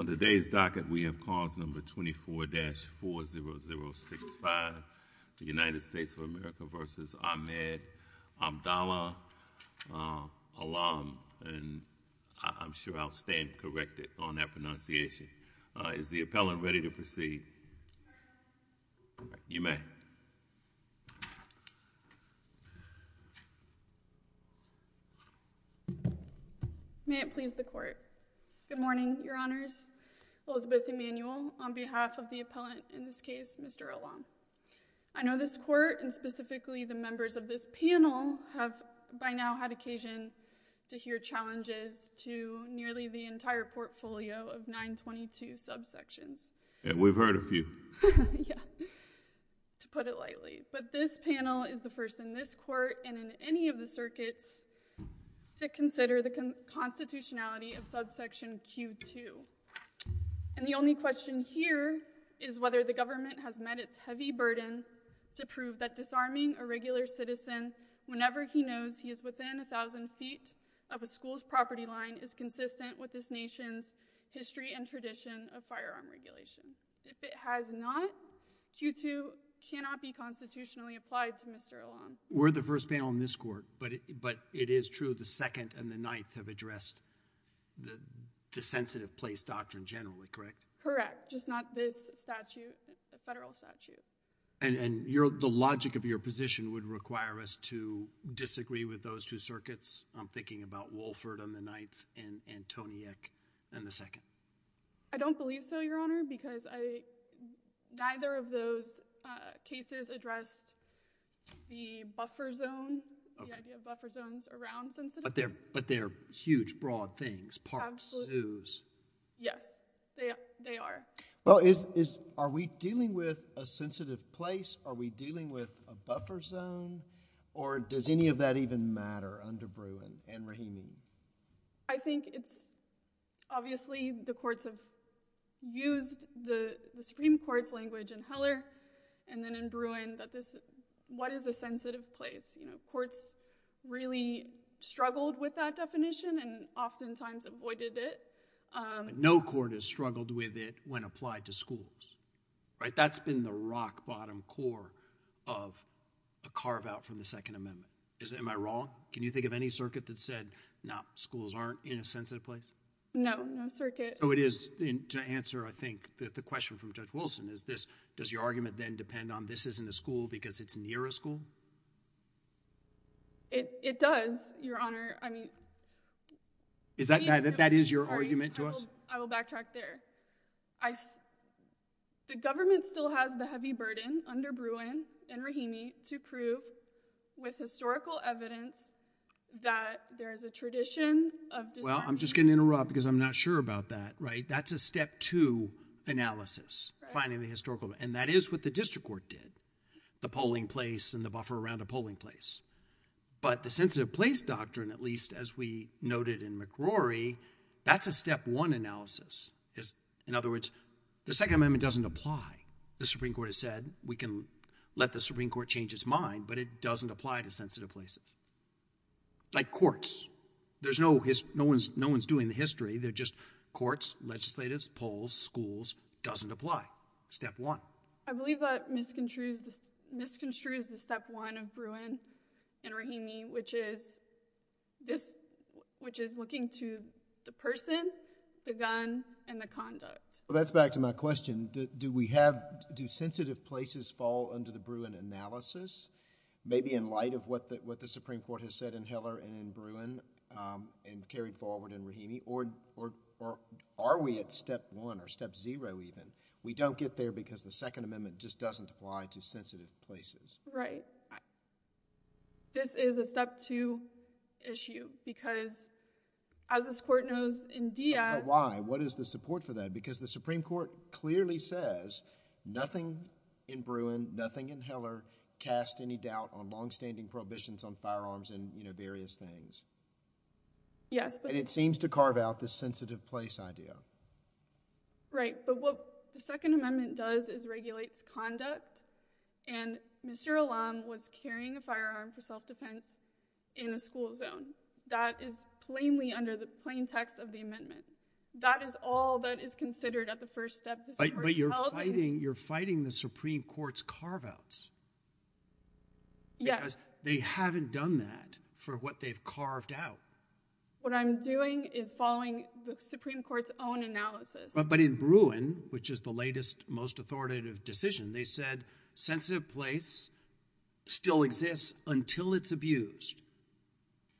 On today's docket, we have cause number 24-40065, the United States of America v. Ahmed Abdallah Allam, and I'm sure I'll stand corrected on that pronunciation. Is the appellant ready to proceed? You may. May it please the Court. Good morning, Your Honors. Elizabeth Emanuel on behalf of the appellant in this case, Mr. Allam. I know this Court, and specifically the members of this panel, have by now had occasion to hear challenges to nearly the entire portfolio of 922 subsections. And we've heard a few. Yeah, to put it lightly. But this panel is the first in this Court and in any of the circuits to consider the constitutionality of subsection Q2. And the only question here is whether the government has met its heavy burden to prove that disarming a regular citizen whenever he knows he is within a thousand feet of a school's property line is consistent with this nation's history and tradition of firearm regulation. If it has not, Q2 cannot be constitutionally applied to Mr. Allam. We're the first panel in this Court, but it is true the Second and the Ninth have addressed the sensitive place doctrine generally, correct? Correct, just not this statute, the federal statute. And the logic of your position would require us to disagree with those two circuits? I'm thinking about Wolford on the Ninth and Antoniuk on the Second. I don't believe so, Your Honor, because neither of those cases addressed the buffer zone, the idea of buffer zones around sensitive places. But they're huge, broad things, parks, zoos. Yes, they are. Well, are we dealing with a sensitive place? Are we dealing with a buffer zone? Or does any of that even matter under Bruin and Rahimi? I think it's—obviously the courts have used the Supreme Court's language in Heller and then in Bruin that this—what is a sensitive place? Courts really struggled with that definition and oftentimes avoided it. No court has struggled with it when applied to schools, right? That's been the rock-bottom core of a carve-out from the Second Amendment. Am I wrong? Can you think of any circuit that said schools aren't in a sensitive place? No, no circuit. So it is—to answer, I think, the question from Judge Wilson is this. Does your argument then depend on this isn't a school because it's near a school? It does, Your Honor. I mean— Is that—that is your argument to us? I will backtrack there. The government still has the heavy burden under Bruin and Rahimi to prove with historical evidence that there is a tradition of— Well, I'm just going to interrupt because I'm not sure about that, right? That's a step two analysis, finding the historical—and that is what the district court did, the polling place and the buffer around a polling place. But the sensitive place doctrine, at least as we noted in McRory, that's a step one analysis. In other words, the Second Amendment doesn't apply. The Supreme Court has said we can let the Supreme Court change its mind, but it doesn't apply to sensitive places. Like courts. There's no—no one's doing the history. They're just courts, legislatives, polls, schools. Doesn't apply. Step one. I believe that misconstrues the step one of Bruin and Rahimi, which is this—which is looking to the person, the gun, and the conduct. Well, that's back to my question. Do we have—do sensitive places fall under the Bruin analysis? Maybe in light of what the Supreme Court has said in Heller and in Bruin and carried forward in Rahimi, or are we at step one or step zero even? We don't get there because the Second Amendment just doesn't apply to sensitive places. This is a step two issue because, as this court knows in Diaz— But why? What is the support for that? Because the Supreme Court clearly says nothing in Bruin, nothing in Heller, casts any doubt on longstanding prohibitions on firearms and, you know, various things. Yes, but— And it seems to carve out this sensitive place idea. Right, but what the Second Amendment does is regulates conduct, and Mr. Allam was carrying a firearm for self-defense in a school zone. That is plainly under the plain text of the amendment. That is all that is considered at the first step. But you're fighting—you're fighting the Supreme Court's carve-outs. Yes. Because they haven't done that for what they've carved out. What I'm doing is following the Supreme Court's own analysis. But in Bruin, which is the latest, most authoritative decision, they said sensitive place still exists until it's abused,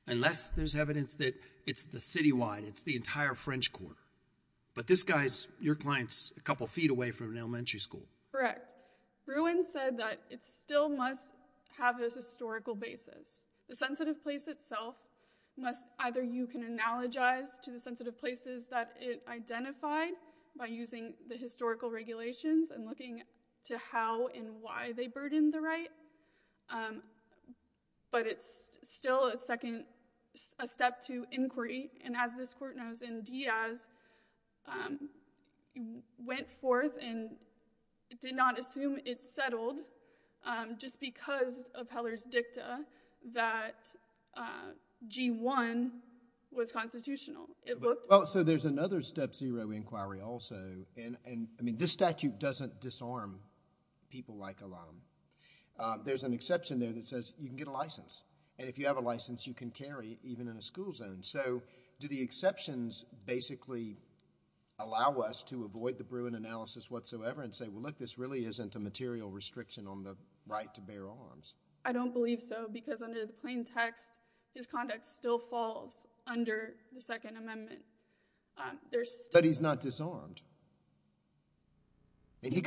unless there's evidence that it's the citywide, it's the entire French Quarter. But this guy's—your client's a couple feet away from an elementary school. Correct. Bruin said that it still must have this historical basis. The sensitive place itself must—either you can analogize to the sensitive places that it identified by using the historical regulations and looking to how and why they burdened the right, but it's still a second—a step to inquiry. And as this court knows in Diaz, it went forth and did not assume it's settled just because of Heller's dicta that G-1 was constitutional. It looked— Well, so there's another step zero inquiry also. And, I mean, this statute doesn't disarm people like Elam. There's an exception there that says you can get a license. And if you have a license, you can carry it even in a school zone. So do the exceptions basically allow us to avoid the Bruin analysis whatsoever and say, well, look, this really isn't a material restriction on the right to bear arms? I don't believe so because under the plain text, his conduct still falls under the Second Amendment. There's still— But he's not disarmed. He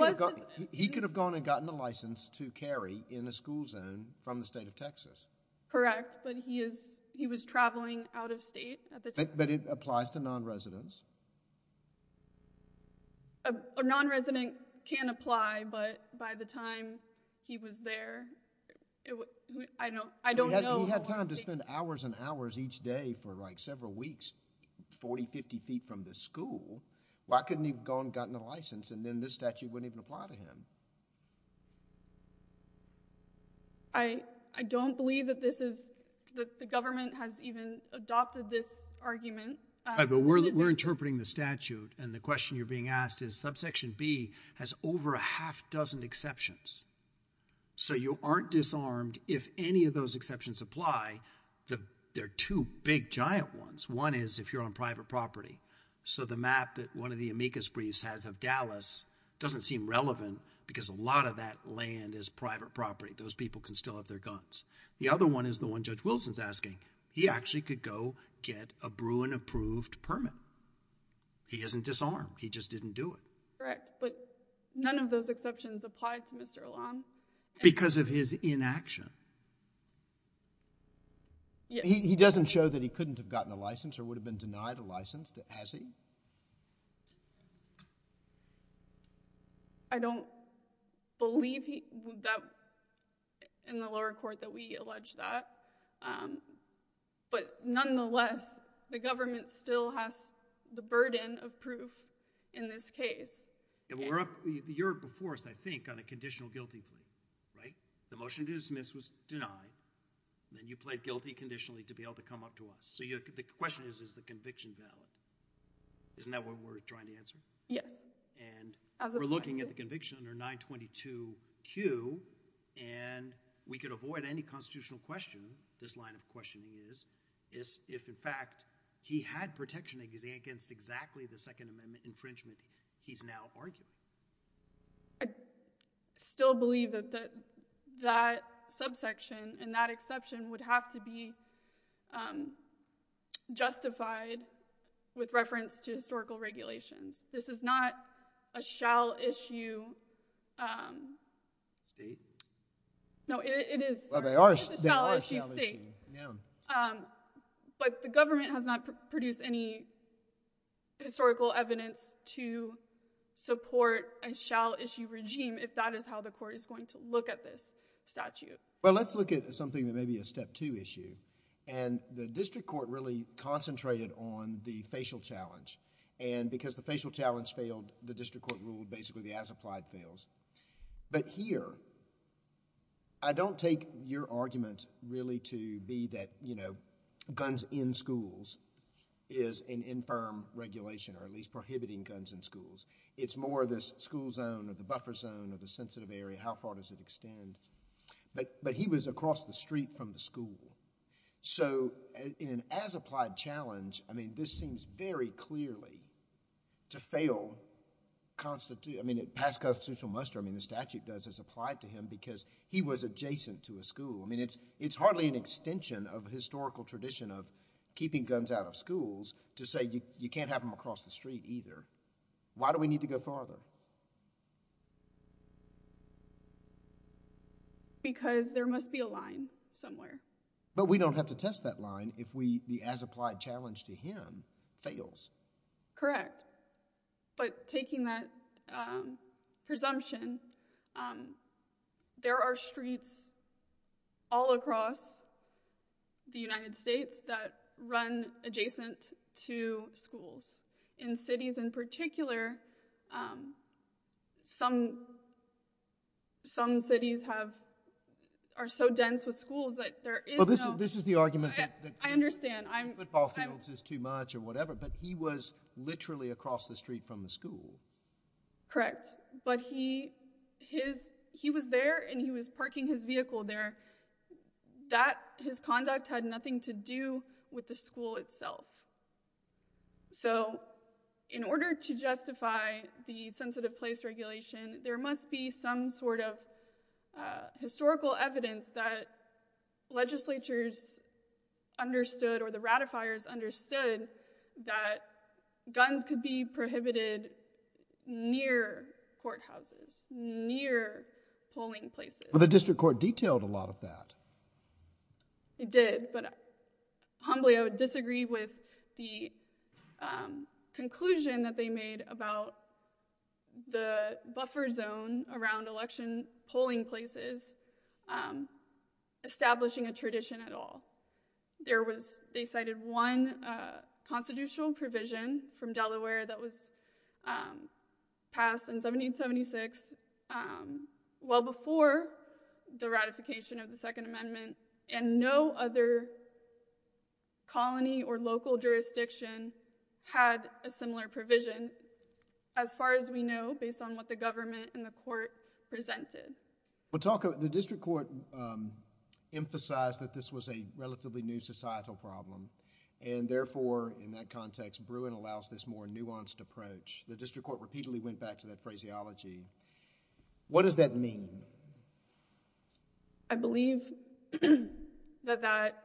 could have gone and gotten a license to carry in a school zone from the state of Texas. Correct. But he was traveling out of state at the time. But it applies to non-residents. A non-resident can apply, but by the time he was there, I don't know— He had time to spend hours and hours each day for, like, several weeks, 40, 50 feet from the school. Why couldn't he have gone and gotten a license, and then this statute wouldn't even apply to him? I don't believe that this is—that the government has even adopted this argument. But we're interpreting the statute, and the question you're being asked is subsection B has over a half dozen exceptions. So you aren't disarmed if any of those exceptions apply. There are two big, giant ones. One is if you're on private property. So the map that one of the amicus briefs has of Dallas doesn't seem relevant because a lot of that land is private property. Those people can still have their guns. The other one is the one Judge Wilson's asking. He actually could go get a Bruin-approved permit. He isn't disarmed. He just didn't do it. Correct. But none of those exceptions applied to Mr. Elam. Because of his inaction. He doesn't show that he couldn't have gotten a license or would have been denied a license, has he? I don't believe that in the lower court that we allege that. But nonetheless, the government still has the burden of proof in this case. We're up a year before us, I think, on a conditional guilty plea. Right? If the motion to dismiss was denied, then you pled guilty conditionally to be able to come up to us. So the question is, is the conviction valid? Isn't that what we're trying to answer? Yes. And we're looking at the conviction under 922Q, and we could avoid any constitutional question, this line of questioning is, if, in fact, he had protection against exactly the Second Amendment infringement he's now arguing. I still believe that that subsection and that exception would have to be justified with reference to historical regulations. This is not a shall-issue state. No, it is. Well, they are shall-issue. But the government has not produced any historical evidence to support a shall-issue regime, if that is how the court is going to look at this statute. Well, let's look at something that may be a step-two issue. And the district court really concentrated on the facial challenge. And because the facial challenge failed, the district court ruled basically the as-applied fails. But here, I don't take your argument really to be that, you know, guns in schools is an infirm regulation, or at least prohibiting guns in schools. It's more this school zone or the buffer zone or the sensitive area, how far does it extend. But he was across the street from the school. So, in an as-applied challenge, I mean, this seems very clearly to fail. I mean, it passed constitutional muster. I mean, the statute does as applied to him because he was adjacent to a school. I mean, it's hardly an extension of historical tradition of keeping guns out of schools to say you can't have them across the street either. Why do we need to go farther? Because there must be a line somewhere. But we don't have to test that line if the as-applied challenge to him fails. Correct. But taking that presumption, there are streets all across the United States that run adjacent to schools. In cities in particular, some cities are so dense with schools that there is no— Well, this is the argument that— I understand. Football fields is too much or whatever, but he was literally across the street from the school. Correct. But he was there, and he was parking his vehicle there. That, his conduct, had nothing to do with the school itself. So in order to justify the sensitive place regulation, there must be some sort of historical evidence that legislatures understood or the ratifiers understood that guns could be prohibited near courthouses, near polling places. Well, the district court detailed a lot of that. It did, but humbly I would disagree with the conclusion that they made about the buffer zone around election polling places establishing a tradition at all. They cited one constitutional provision from Delaware that was passed in 1776 well before the ratification of the Second Amendment, and no other colony or local jurisdiction had a similar provision, as far as we know, based on what the government and the court presented. The district court emphasized that this was a relatively new societal problem, and therefore, in that context, Bruin allows this more nuanced approach. The district court repeatedly went back to that phraseology. What does that mean? I believe that that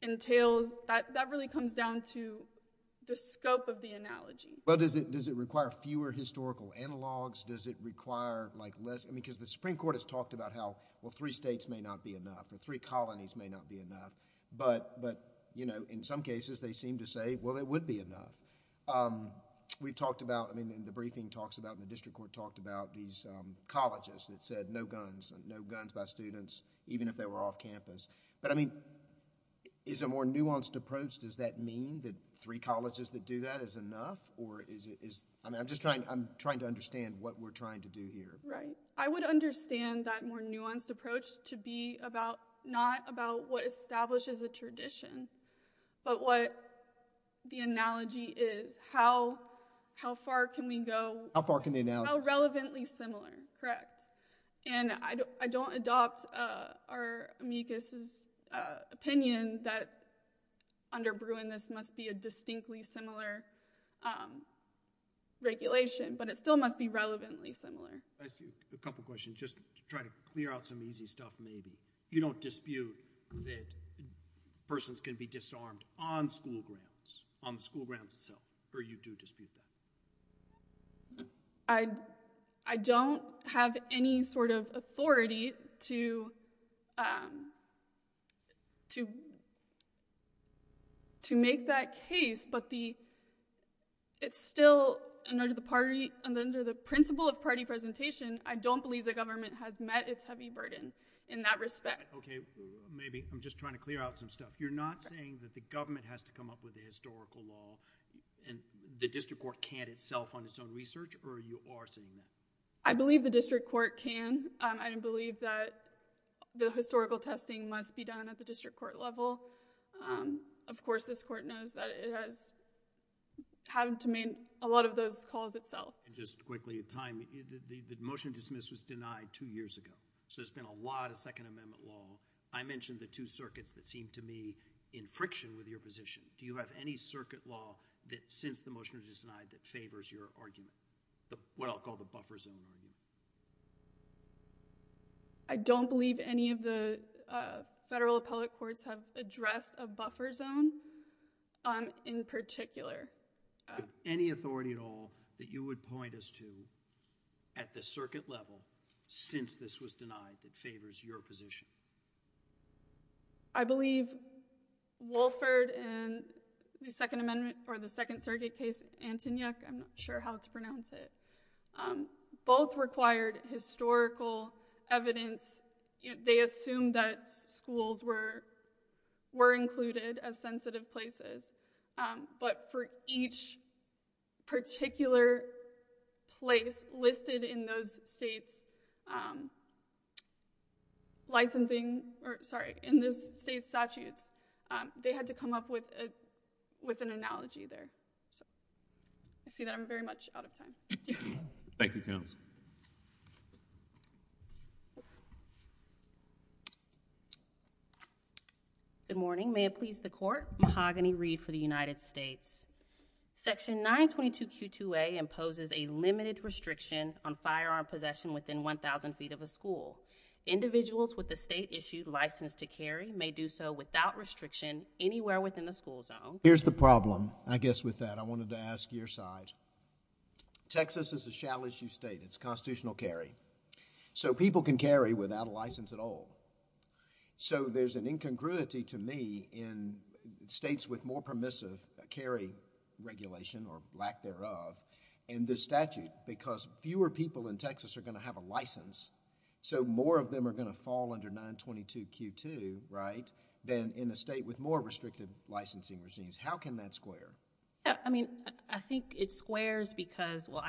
entails, that really comes down to the scope of the analogy. Well, does it require fewer historical analogs? Does it require, like, less, I mean, because the Supreme Court has talked about how, well, three states may not be enough, or three colonies may not be enough, but, you know, in some cases, they seem to say, well, it would be enough. We talked about, I mean, in the briefing talks about, the district court talked about these colleges that said no guns, no guns by students, even if they were off campus. But, I mean, is a more nuanced approach, does that mean that three colleges that do that is enough, or is it, I mean, I'm just trying to understand what we're trying to do here. Right. I would understand that more nuanced approach to be about, not about what establishes a tradition, but what the analogy is, how far can we go. How far can the analogy go? How relevantly similar, correct. And I don't adopt our amicus' opinion that under Bruin, this must be a distinctly similar regulation, but it still must be relevantly similar. I ask you a couple questions, just to try to clear out some easy stuff, maybe. You don't dispute that persons can be disarmed on school grounds, on the school grounds itself, or you do dispute that? I don't have any sort of authority to make that case, but it's still, under the principle of party presentation, I don't believe the government has met its heavy burden in that respect. Okay, maybe, I'm just trying to clear out some stuff. You're not saying that the government has to come up with a historical law, and the district court can't itself on its own research, or you are saying that? I believe the district court can. I don't believe that the historical testing must be done at the district court level. Of course, this court knows that it has had to make a lot of those calls itself. And just quickly, time, the motion to dismiss was denied two years ago, so there's been a lot of Second Amendment law. I mentioned the two circuits that seemed to me in friction with your position. Do you have any circuit law that, since the motion was denied, that favors your argument, what I'll call the buffer zone argument? I don't believe any of the federal appellate courts have addressed a buffer zone in particular. Do you have any authority at all that you would point us to at the circuit level, since this was denied, that favors your position? I believe Wolford and the Second Circuit case, Antonyuk, I'm not sure how to pronounce it, both required historical evidence. They assumed that schools were included as sensitive places. But for each particular place listed in those states' licensing, or sorry, in those states' statutes, they had to come up with an analogy there. I see that I'm very much out of time. Thank you, counsel. Good morning. May it please the Court. Mahogany Reed for the United States. Section 922Q2A imposes a limited restriction on firearm possession within 1,000 feet of a school. Individuals with a state-issued license to carry may do so without restriction anywhere within the school zone. Here's the problem, I guess, with that. I wanted to ask your side. Texas is a shall-issue state. It's constitutional carry. So people can carry without a license at all. So there's an incongruity to me in states with more permissive carry regulation, or lack thereof, in this statute. Because fewer people in Texas are going to have a license, so more of them are going to fall under 922Q2, right, than in a state with more restricted licensing regimes. How can that square? I mean, I think it squares because, well,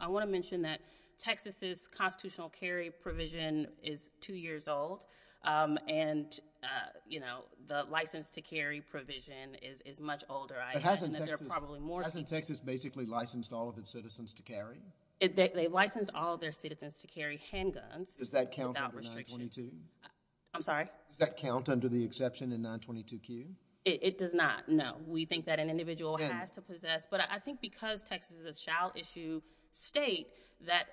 I want to mention that Texas's constitutional carry provision is two years old, and, you know, the license to carry provision is much older. But hasn't Texas basically licensed all of its citizens to carry? They've licensed all of their citizens to carry handguns without restriction. Does that count under 922? I'm sorry? Does that count under the exception in 922Q? It does not, no. We think that an individual has to possess. But I think because Texas is a shall-issue state, that,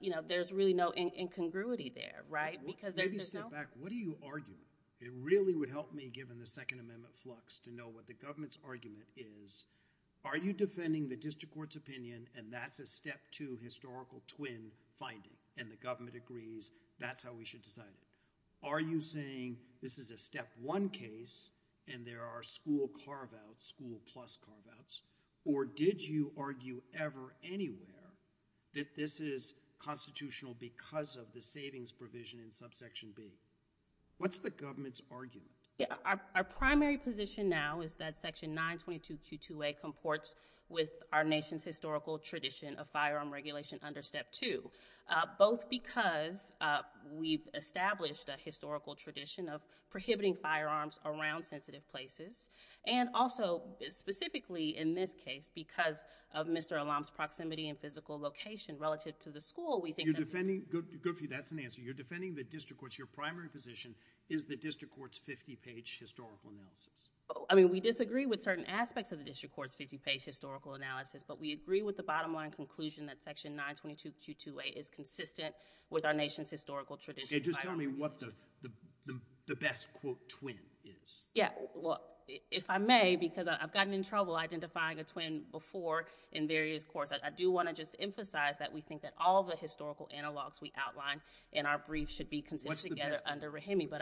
you know, there's really no incongruity there, right? Maybe step back. What are you arguing? It really would help me, given the Second Amendment flux, to know what the government's argument is. Are you defending the district court's opinion, and that's a step two historical twin finding, and the government agrees that's how we should decide it? Are you saying this is a step one case, and there are school carve-outs, school plus carve-outs? Or did you argue ever anywhere that this is constitutional because of the savings provision in subsection B? What's the government's argument? Our primary position now is that section 922Q2A comports with our nation's historical tradition of firearm regulation under step two, both because we've established a historical tradition of prohibiting firearms around sensitive places, and also specifically in this case because of Mr. Alam's proximity and physical location relative to the school, we think that this is— You're defending—good for you, that's an answer. You're defending the district court's—your primary position is the district court's 50-page historical analysis. I mean, we disagree with certain aspects of the district court's 50-page historical analysis, but we agree with the bottom-line conclusion that section 922Q2A is consistent with our nation's historical tradition— And just tell me what the best, quote, twin is. Yeah, well, if I may, because I've gotten in trouble identifying a twin before in various courts, I do want to just emphasize that we think that all the historical analogs we outline in our brief should be considered together under REHME, but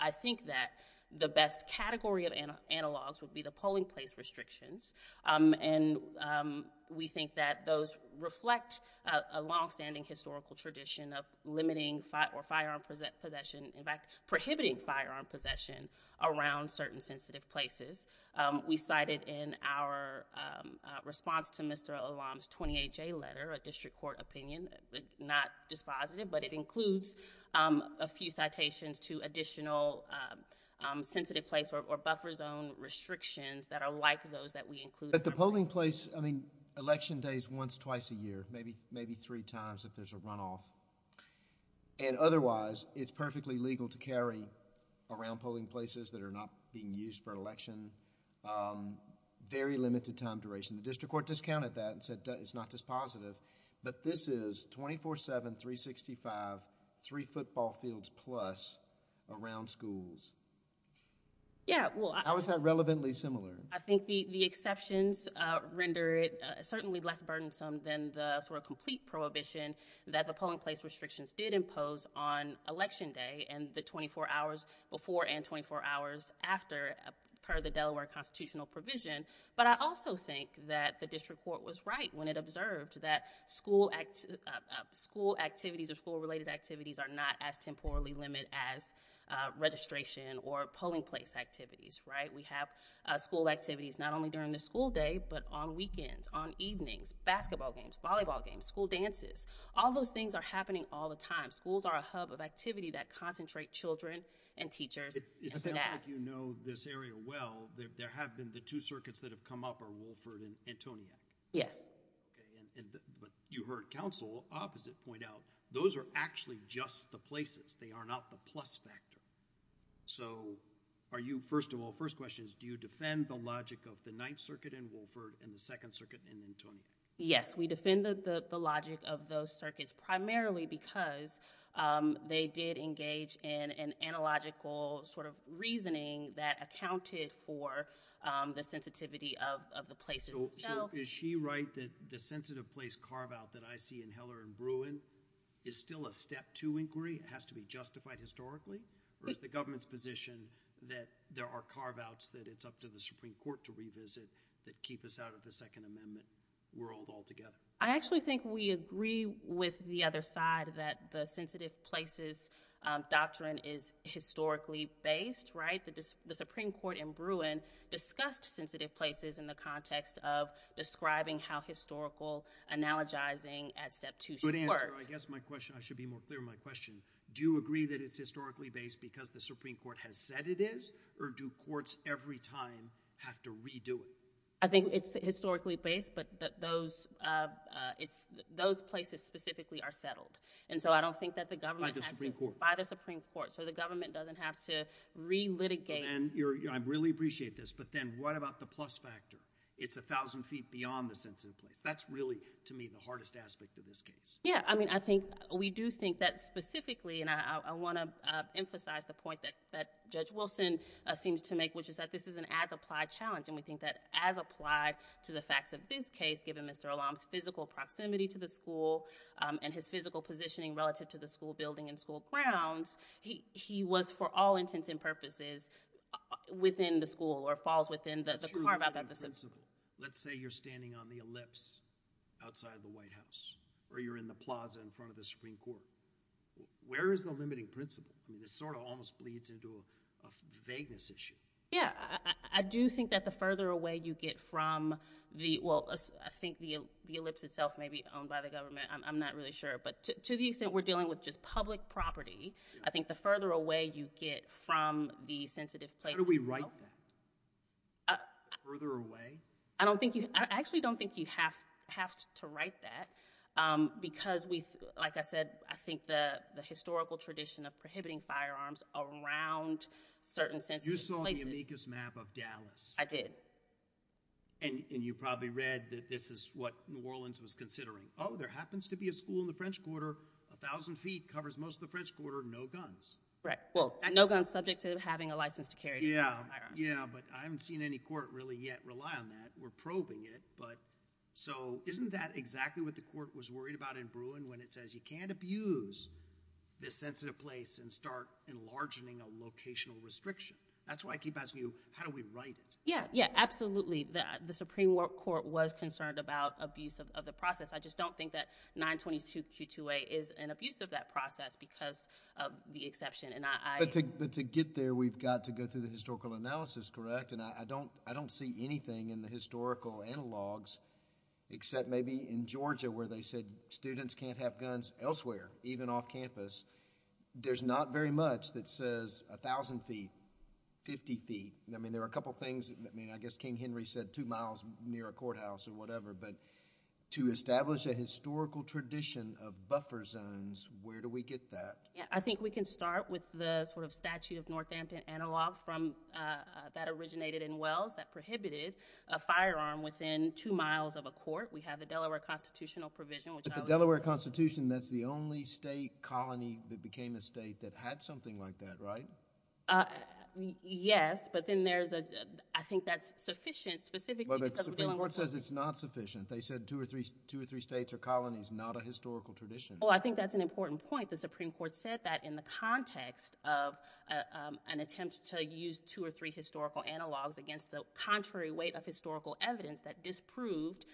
I think that the best category of analogs would be the polling place restrictions, and we think that those reflect a long-standing historical tradition of limiting or firearm possession— in fact, prohibiting firearm possession around certain sensitive places. We cited in our response to Mr. Olam's 28-J letter, a district court opinion, not dispositive, but it includes a few citations to additional sensitive place or buffer zone restrictions that are like those that we include— But the polling place, I mean, election day is once, twice a year, maybe three times if there's a runoff. And otherwise, it's perfectly legal to carry around polling places that are not being used for election, very limited time duration. The district court discounted that and said it's not dispositive, but this is 24-7, 365, three football fields plus around schools. How is that relevantly similar? I think the exceptions render it certainly less burdensome than the sort of complete prohibition that the polling place restrictions did impose on election day and the 24 hours before and 24 hours after per the Delaware constitutional provision. But I also think that the district court was right when it observed that school activities or school-related activities are not as temporally limited as registration or polling place activities. We have school activities not only during the school day, but on weekends, on evenings, basketball games, volleyball games, school dances. All those things are happening all the time. Schools are a hub of activity that concentrate children and teachers. It sounds like you know this area well. There have been the two circuits that have come up are Wolford and Antoniac. Yes. But you heard counsel opposite point out those are actually just the places. They are not the plus factor. So are you—first of all, first question is, do you defend the logic of the Ninth Circuit in Wolford and the Second Circuit in Antoniac? Yes, we defend the logic of those circuits primarily because they did engage in an analogical sort of reasoning that accounted for the sensitivity of the places themselves. So is she right that the sensitive place carve-out that I see in Heller and Bruin is still a step two inquiry? It has to be justified historically? Or is the government's position that there are carve-outs that it's up to the Supreme Court to revisit that keep us out of the Second Amendment world altogether? I actually think we agree with the other side that the sensitive places doctrine is historically based, right? The Supreme Court in Bruin discussed sensitive places in the context of describing how historical analogizing at step two should work. I guess my question—I should be more clear in my question. Do you agree that it's historically based because the Supreme Court has said it is? Or do courts every time have to redo it? I think it's historically based, but those places specifically are settled. And so I don't think that the government has to— By the Supreme Court. By the Supreme Court. So the government doesn't have to re-litigate. I really appreciate this, but then what about the plus factor? It's 1,000 feet beyond the sensitive place. That's really, to me, the hardest aspect of this case. Yeah. I mean, I think we do think that specifically— and I want to emphasize the point that Judge Wilson seems to make, which is that this is an as-applied challenge, and we think that as applied to the facts of this case, given Mr. Alam's physical proximity to the school and his physical positioning relative to the school building and school grounds, he was for all intents and purposes within the school or falls within the carve-out that the Supreme Court— Let's say you're standing on the ellipse outside of the White House or you're in the plaza in front of the Supreme Court. Where is the limiting principle? I mean, this sort of almost bleeds into a vagueness issue. Yeah. I do think that the further away you get from the— well, I think the ellipse itself may be owned by the government. I'm not really sure. But to the extent we're dealing with just public property, I think the further away you get from the sensitive place— How do we write that? Further away? I don't think you—I actually don't think you have to write that because, like I said, I think the historical tradition of prohibiting firearms around certain sensitive places— You saw the amicus map of Dallas. I did. And you probably read that this is what New Orleans was considering. Oh, there happens to be a school in the French Quarter, 1,000 feet, covers most of the French Quarter, no guns. Right. Well, no guns subject to having a license to carry a firearm. Yeah, but I haven't seen any court really yet rely on that. We're probing it. So isn't that exactly what the court was worried about in Bruin when it says you can't abuse this sensitive place and start enlargening a locational restriction? That's why I keep asking you, how do we write it? Yeah, yeah, absolutely. The Supreme Court was concerned about abuse of the process. I just don't think that 922Q2A is an abuse of that process because of the exception. But to get there, we've got to go through the historical analysis, correct? And I don't see anything in the historical analogs except maybe in Georgia where they said students can't have guns elsewhere, even off campus. There's not very much that says 1,000 feet, 50 feet. I mean, there are a couple things— I mean, I guess King Henry said 2 miles near a courthouse or whatever. But to establish a historical tradition of buffer zones, where do we get that? I think we can start with the sort of statute of Northampton analog that originated in Wells that prohibited a firearm within 2 miles of a court. We have the Delaware constitutional provision, which I would— But the Delaware constitution, that's the only state colony that became a state that had something like that, right? Yes, but then there's a—I think that's sufficient specifically because— Well, the Supreme Court says it's not sufficient. They said two or three states are colonies, not a historical tradition. Well, I think that's an important point. The Supreme Court said that in the context of an attempt to use two or three historical analogs against the contrary weight of historical evidence that disproved,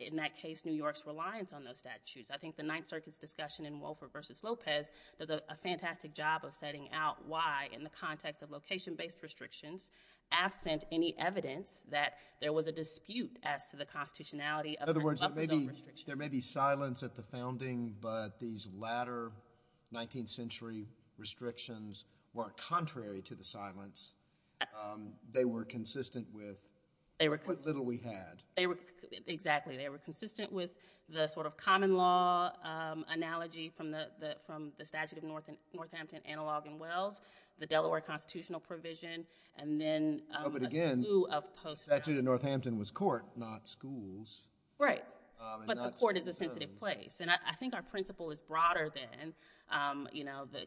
in that case, New York's reliance on those statutes. I think the Ninth Circuit's discussion in Wolfer v. Lopez does a fantastic job of setting out why, in the context of location-based restrictions, absent any evidence that there was a dispute as to the constitutionality of— Because there may be silence at the founding, but these latter 19th century restrictions were contrary to the silence. They were consistent with what little we had. Exactly. They were consistent with the sort of common law analogy from the statute of Northampton, analog in Wells, the Delaware constitutional provision, and then— But again, the statute of Northampton was court, not schools. Right. But the court is a sensitive place. And I think our principle is broader than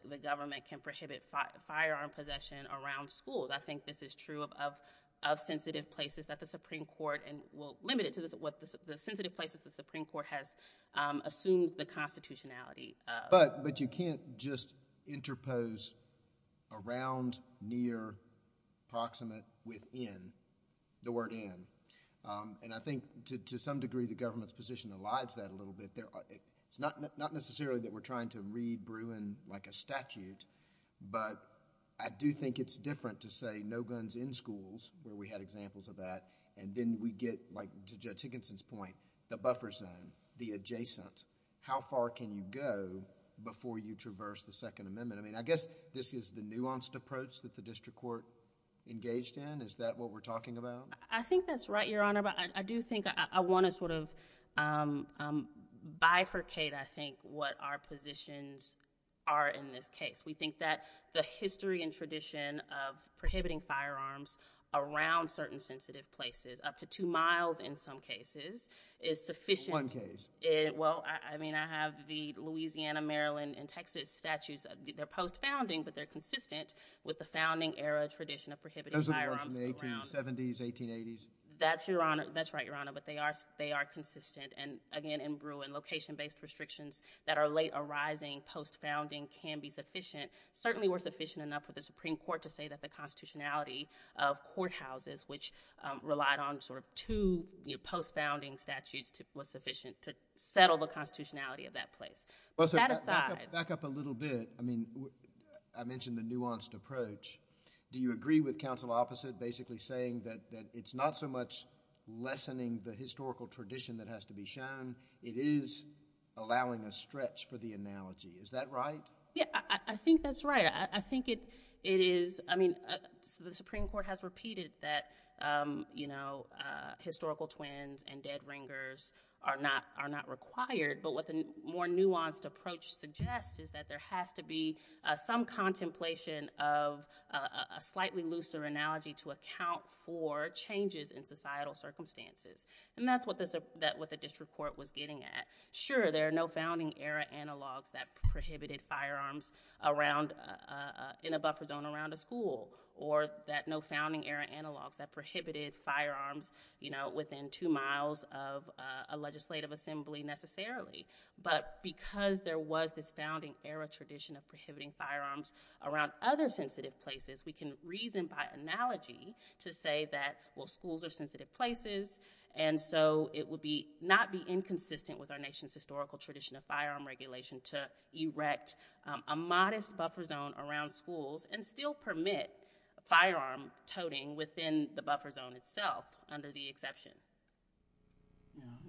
the government can prohibit firearm possession around schools. I think this is true of sensitive places that the Supreme Court— and we'll limit it to the sensitive places the Supreme Court has assumed the constitutionality of. But you can't just interpose around, near, proximate, within the word in. And I think, to some degree, the government's position elides that a little bit. It's not necessarily that we're trying to read Bruin like a statute, but I do think it's different to say no guns in schools, where we had examples of that, and then we get, like to Judge Higginson's point, the buffer zone, the adjacent. How far can you go before you traverse the Second Amendment? I mean, I guess this is the nuanced approach that the district court engaged in. Is that what we're talking about? I think that's right, Your Honor, but I do think I want to sort of bifurcate, I think, what our positions are in this case. We think that the history and tradition of prohibiting firearms around certain sensitive places, up to two miles in some cases, is sufficient— One case. Well, I mean, I have the Louisiana, Maryland, and Texas statutes. They're post-founding, but they're consistent with the founding-era tradition of prohibiting firearms around— The firearms from the 1870s, 1880s. That's right, Your Honor, but they are consistent. And again, in Bruin, location-based restrictions that are late arising, post-founding, can be sufficient, certainly were sufficient enough for the Supreme Court to say that the constitutionality of courthouses, which relied on sort of two post-founding statutes, was sufficient to settle the constitutionality of that place. That aside— Back up a little bit. I mean, I mentioned the nuanced approach. Do you agree with counsel opposite basically saying that it's not so much lessening the historical tradition that has to be shown, it is allowing a stretch for the analogy? Is that right? Yeah, I think that's right. I think it is—I mean, the Supreme Court has repeated that historical twins and dead ringers are not required, but what the more nuanced approach suggests is that there has to be some contemplation of a slightly looser analogy to account for changes in societal circumstances, and that's what the district court was getting at. Sure, there are no founding-era analogs that prohibited firearms in a buffer zone around a school or that no founding-era analogs that prohibited firearms within two miles of a legislative assembly necessarily, but because there was this founding-era tradition of prohibiting firearms around other sensitive places, we can reason by analogy to say that, well, schools are sensitive places, and so it would not be inconsistent with our nation's historical tradition of firearm regulation to erect a modest buffer zone around schools and still permit firearm toting within the buffer zone itself under the exception.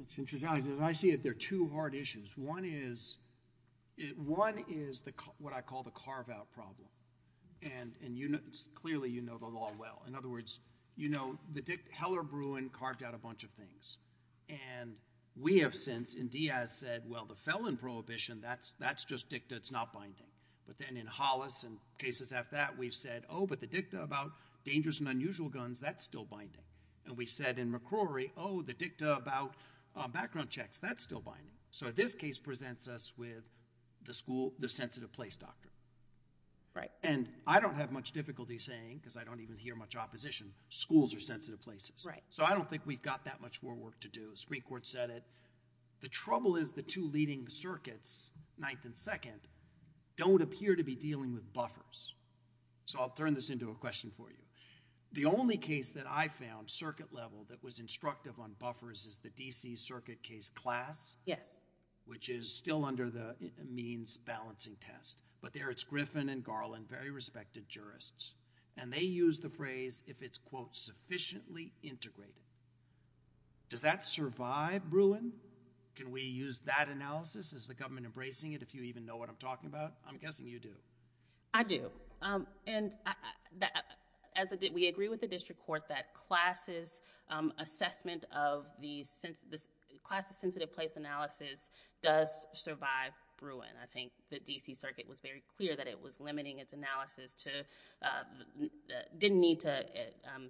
It's interesting. As I see it, there are two hard issues. One is what I call the carve-out problem, and clearly you know the law well. In other words, you know Heller-Bruin carved out a bunch of things, and we have since, and Diaz said, well, the felon prohibition, that's just dicta. It's not binding. But then in Hollis and cases after that, we've said, oh, but the dicta about dangerous and unusual guns, that's still binding. And we said in McCrory, oh, the dicta about background checks, that's still binding. So this case presents us with the school, the sensitive place doctrine. Right. And I don't have much difficulty saying, because I don't even hear much opposition, schools are sensitive places. Right. So I don't think we've got that much more work to do. The Supreme Court said it. The trouble is the two leading circuits, 9th and 2nd, don't appear to be dealing with buffers. So I'll turn this into a question for you. The only case that I found, circuit level, that was instructive on buffers is the DC circuit case class. Yes. Which is still under the means balancing test. But there it's Griffin and Garland, very respected jurists. And they used the phrase, if it's, quote, sufficiently integrated. Does that survive Bruin? Can we use that analysis? Is the government embracing it, if you even know what I'm talking about? I'm guessing you do. I do. And we agree with the district court that class's assessment of the class's sensitive place analysis does survive Bruin. I think the DC circuit was very clear that it was limiting its analysis to, didn't need to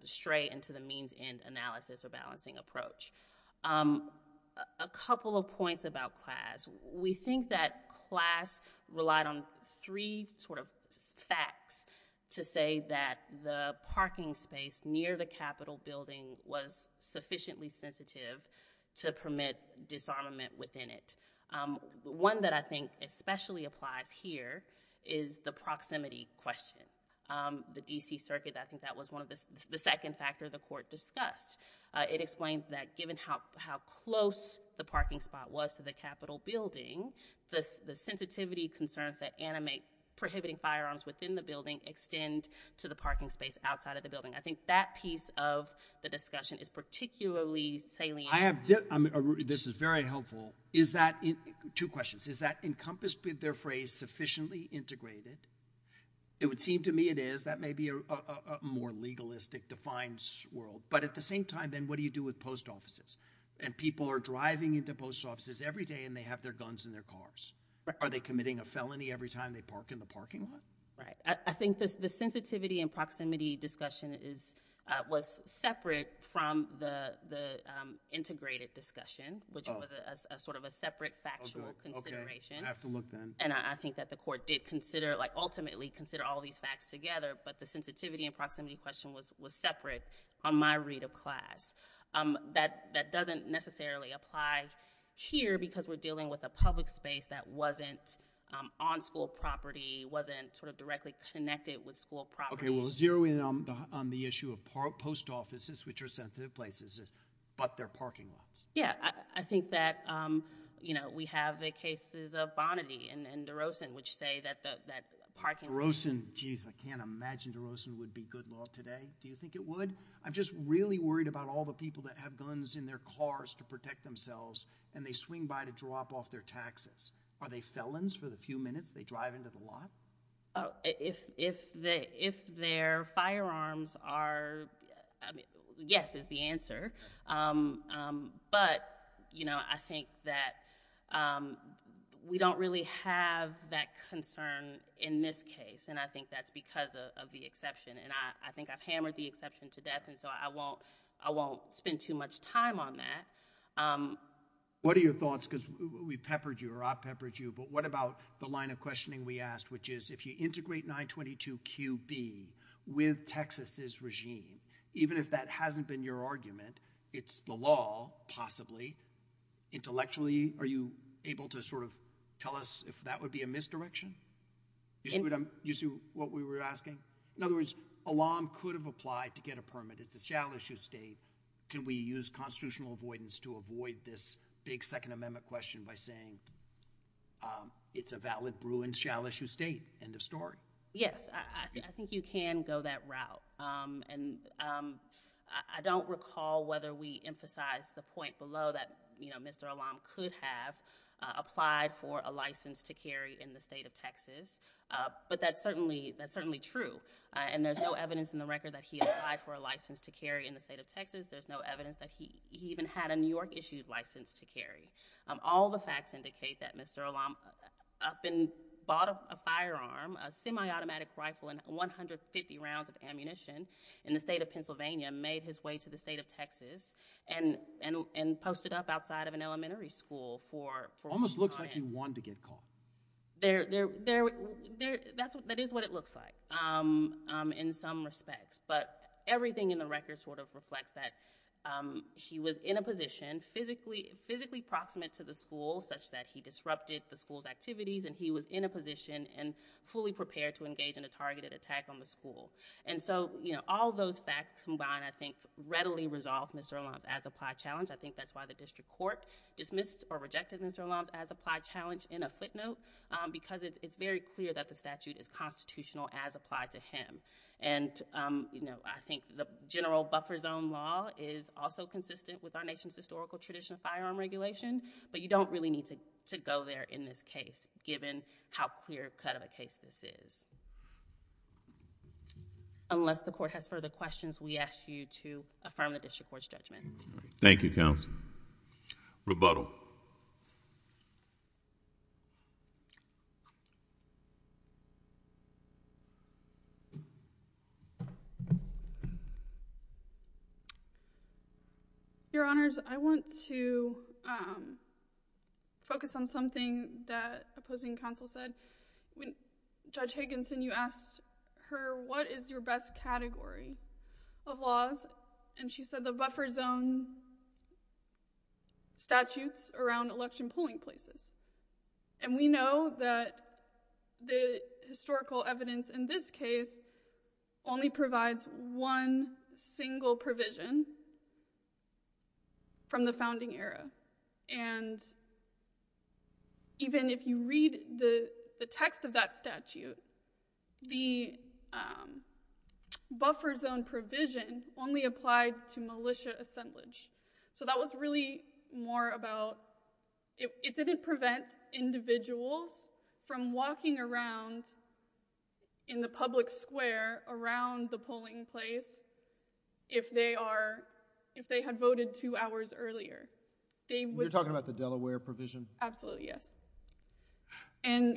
stray into the means end analysis or balancing approach. A couple of points about class. We think that class relied on three facts to say that the parking space near the Capitol building was sufficiently sensitive to permit disarmament within it. One that I think especially applies here is the proximity question. The DC circuit, I think that was one of the second factor the court discussed. It explained that given how close the parking spot was to the Capitol building, the sensitivity concerns that animate prohibiting firearms within the building extend to the parking space outside of the building. I think that piece of the discussion is particularly salient. This is very helpful. Two questions. Is that encompassed with their phrase sufficiently integrated? It would seem to me it is. That may be a more legalistic defined world. But at the same time, then, what do you do with post offices? And people are driving into post offices every day and they have their guns in their cars. Are they committing a felony every time they park in the parking lot? I think the sensitivity and proximity discussion was separate from the integrated discussion, which was a separate factual consideration. I have to look then. And I think that the court did ultimately consider all these facts together. But the sensitivity and proximity question was separate on my read of class. That doesn't necessarily apply here because we're dealing with a public space that wasn't on school property, wasn't directly connected with school property. OK. Well, zeroing in on the issue of post offices, which are sensitive places, but they're parking lots. Yeah. I think that we have the cases of Bonaty and DeRosen, which say that the parking space is. DeRosen. Jeez, I can't imagine DeRosen would be good law today. Do you think it would? I'm just really worried about all the people that have guns in their cars to protect themselves. And they swing by to drop off their taxes. Are they felons for the few minutes they drive into the lot? If their firearms are, yes is the answer. But I think that we don't really have that concern in this case. And I think that's because of the exception. And I think I've hammered the exception to death. And so I won't spend too much time on that. What are your thoughts? Because we peppered you, or I peppered you. But what about the line of questioning we asked, which is, if you integrate 922QB with Texas's regime, even if that hasn't been your argument, it's the law, possibly. Intellectually, are you able to tell us if that would be a misdirection? You see what we were asking? In other words, Alam could have applied to get a permit. It's a shall-issue state. Can we use constitutional avoidance to avoid this big Second Amendment question by saying, it's a valid Bruins shall-issue state? End of story. Yes. I think you can go that route. And I don't recall whether we emphasized the point below that Mr. Alam could have applied for a license to carry in the state of Texas. But that's certainly true. And there's no evidence in the record that he applied for a license to carry in the state of Texas. There's no evidence that he even had a New York-issued license to carry. All the facts indicate that Mr. Alam up and bought a firearm, a semi-automatic rifle, and 150 rounds of ammunition in the state of Pennsylvania, made his way to the state of Texas and posted up outside of an elementary school for a week. Almost looks like he wanted to get caught. That is what it looks like in some respects. But everything in the record sort of reflects that he was in a position physically proximate to the school, such that he disrupted the school's activities. And he was in a position and fully prepared to engage in a targeted attack on the school. And so all those facts combined, I think, readily resolve Mr. Alam's as-applied challenge. I think that's why the district court dismissed or rejected Mr. Alam's as-applied challenge in a footnote. Because it's very clear that the statute is constitutional as applied to him. And I think the general buffer zone law is also consistent with our nation's historical tradition of firearm regulation. But you don't really need to go there in this case, given how clear cut of a case this is. Unless the court has further questions, we ask you to affirm the district court's judgment. Thank you, counsel. Rebuttal. Your Honors, I want to focus on something that opposing counsel said. When Judge Higginson, you asked her, what is your best category of laws? And she said the buffer zone statutes around election polling places. And we know that the historical evidence in this case only provides one single provision from the founding era. And even if you read the text of that statute, the buffer zone provision only applied to militia assemblage. So that was really more about, it didn't prevent individuals from walking around in the public square around the polling place if they had voted two hours earlier. You're talking about the Delaware provision? Absolutely, yes.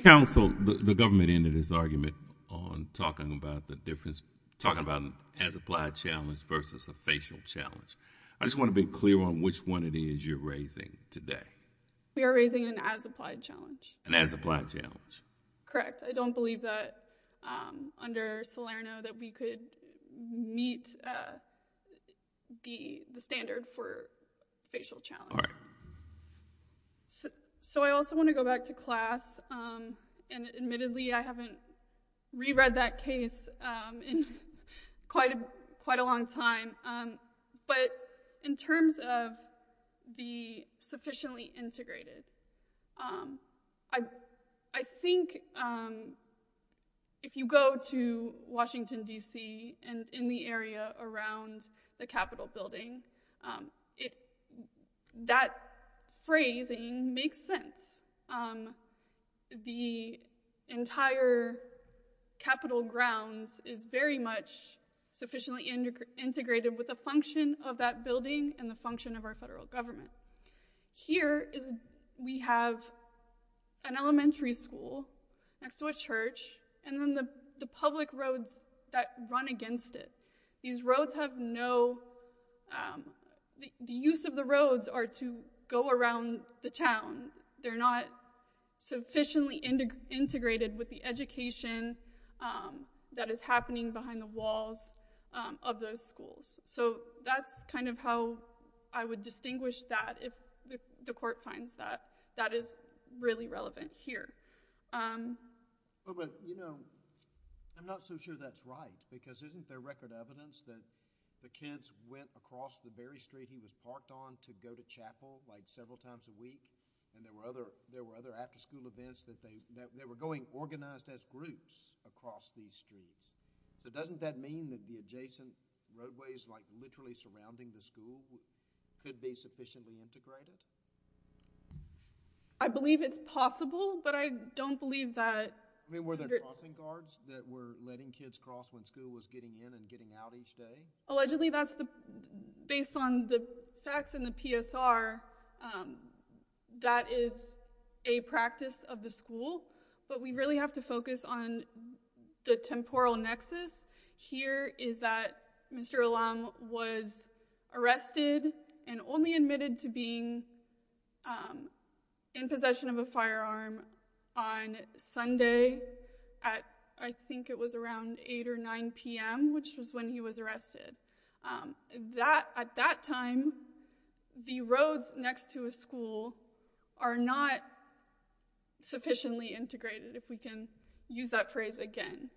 Counsel, the government ended its argument on talking about the difference, talking about an as-applied challenge versus a facial challenge. I just want to be clear on which one it is you're raising today. We are raising an as-applied challenge. An as-applied challenge. Correct. I don't believe that under Salerno that we could meet the standard for facial challenge. All right. So I also want to go back to class. And admittedly, I haven't re-read that case in quite a long time. But in terms of the sufficiently integrated, I think if you go to Washington DC and in the area around the Capitol building, that phrasing makes sense. The entire Capitol grounds is very much sufficiently integrated with the function of that building and the function of our federal government. Here we have an elementary school next to a church, and then the public roads that run against it. These roads have no, the use of the roads are to go around the town. They're not sufficiently integrated with the education that is happening behind the walls of those schools. So that's kind of how I would distinguish that if the court finds that. That is really relevant here. But you know, I'm not so sure that's right. Because isn't there record evidence that the kids went across the Berry Street he was parked on to go to chapel like several times a week? And there were other after school events that they were going organized as groups across these streets. So doesn't that mean that the adjacent roadways like literally surrounding the school could be sufficiently integrated? I believe it's possible, but I don't believe that. I mean, were there crossing guards that were letting kids cross when school was getting in and getting out each day? Allegedly that's the, based on the facts in the PSR, that is a practice of the school. But we really have to focus on the temporal nexus. Here is that Mr. Alum was arrested and only admitted to being in possession of a firearm on Sunday at, I think it was around 8 or 9 p.m., which was when he was arrested. At that time, the roads next to a school are not sufficiently integrated, if we can use that phrase again.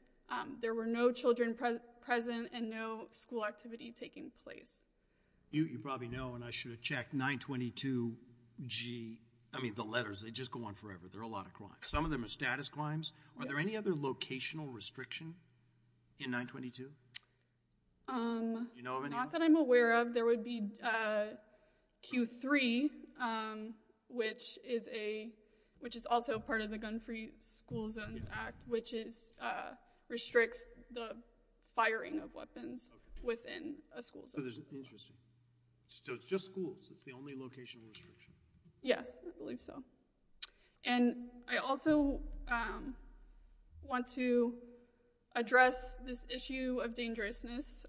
There were no children present and no school activity taking place. You probably know, and I should have checked, 922-G, I mean the letters, they just go on forever. There are a lot of crimes. Some of them are status crimes. Are there any other locational restriction in 922? Not that I'm aware of. There would be Q3, which is also part of the Gun-Free School Zones Act, which restricts the firing of weapons within a school zone. Interesting. So it's just schools, it's the only locational restriction? Yes, I believe so. And I also want to address this issue of dangerousness.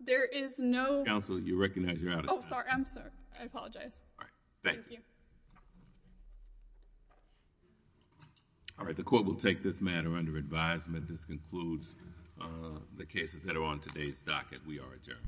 There is no... Counsel, you recognize you're out of time. Oh, sorry, I'm sorry. I apologize. All right, thank you. Thank you. All right, the court will take this matter under advisement. This concludes the cases that are on today's docket. We are adjourned.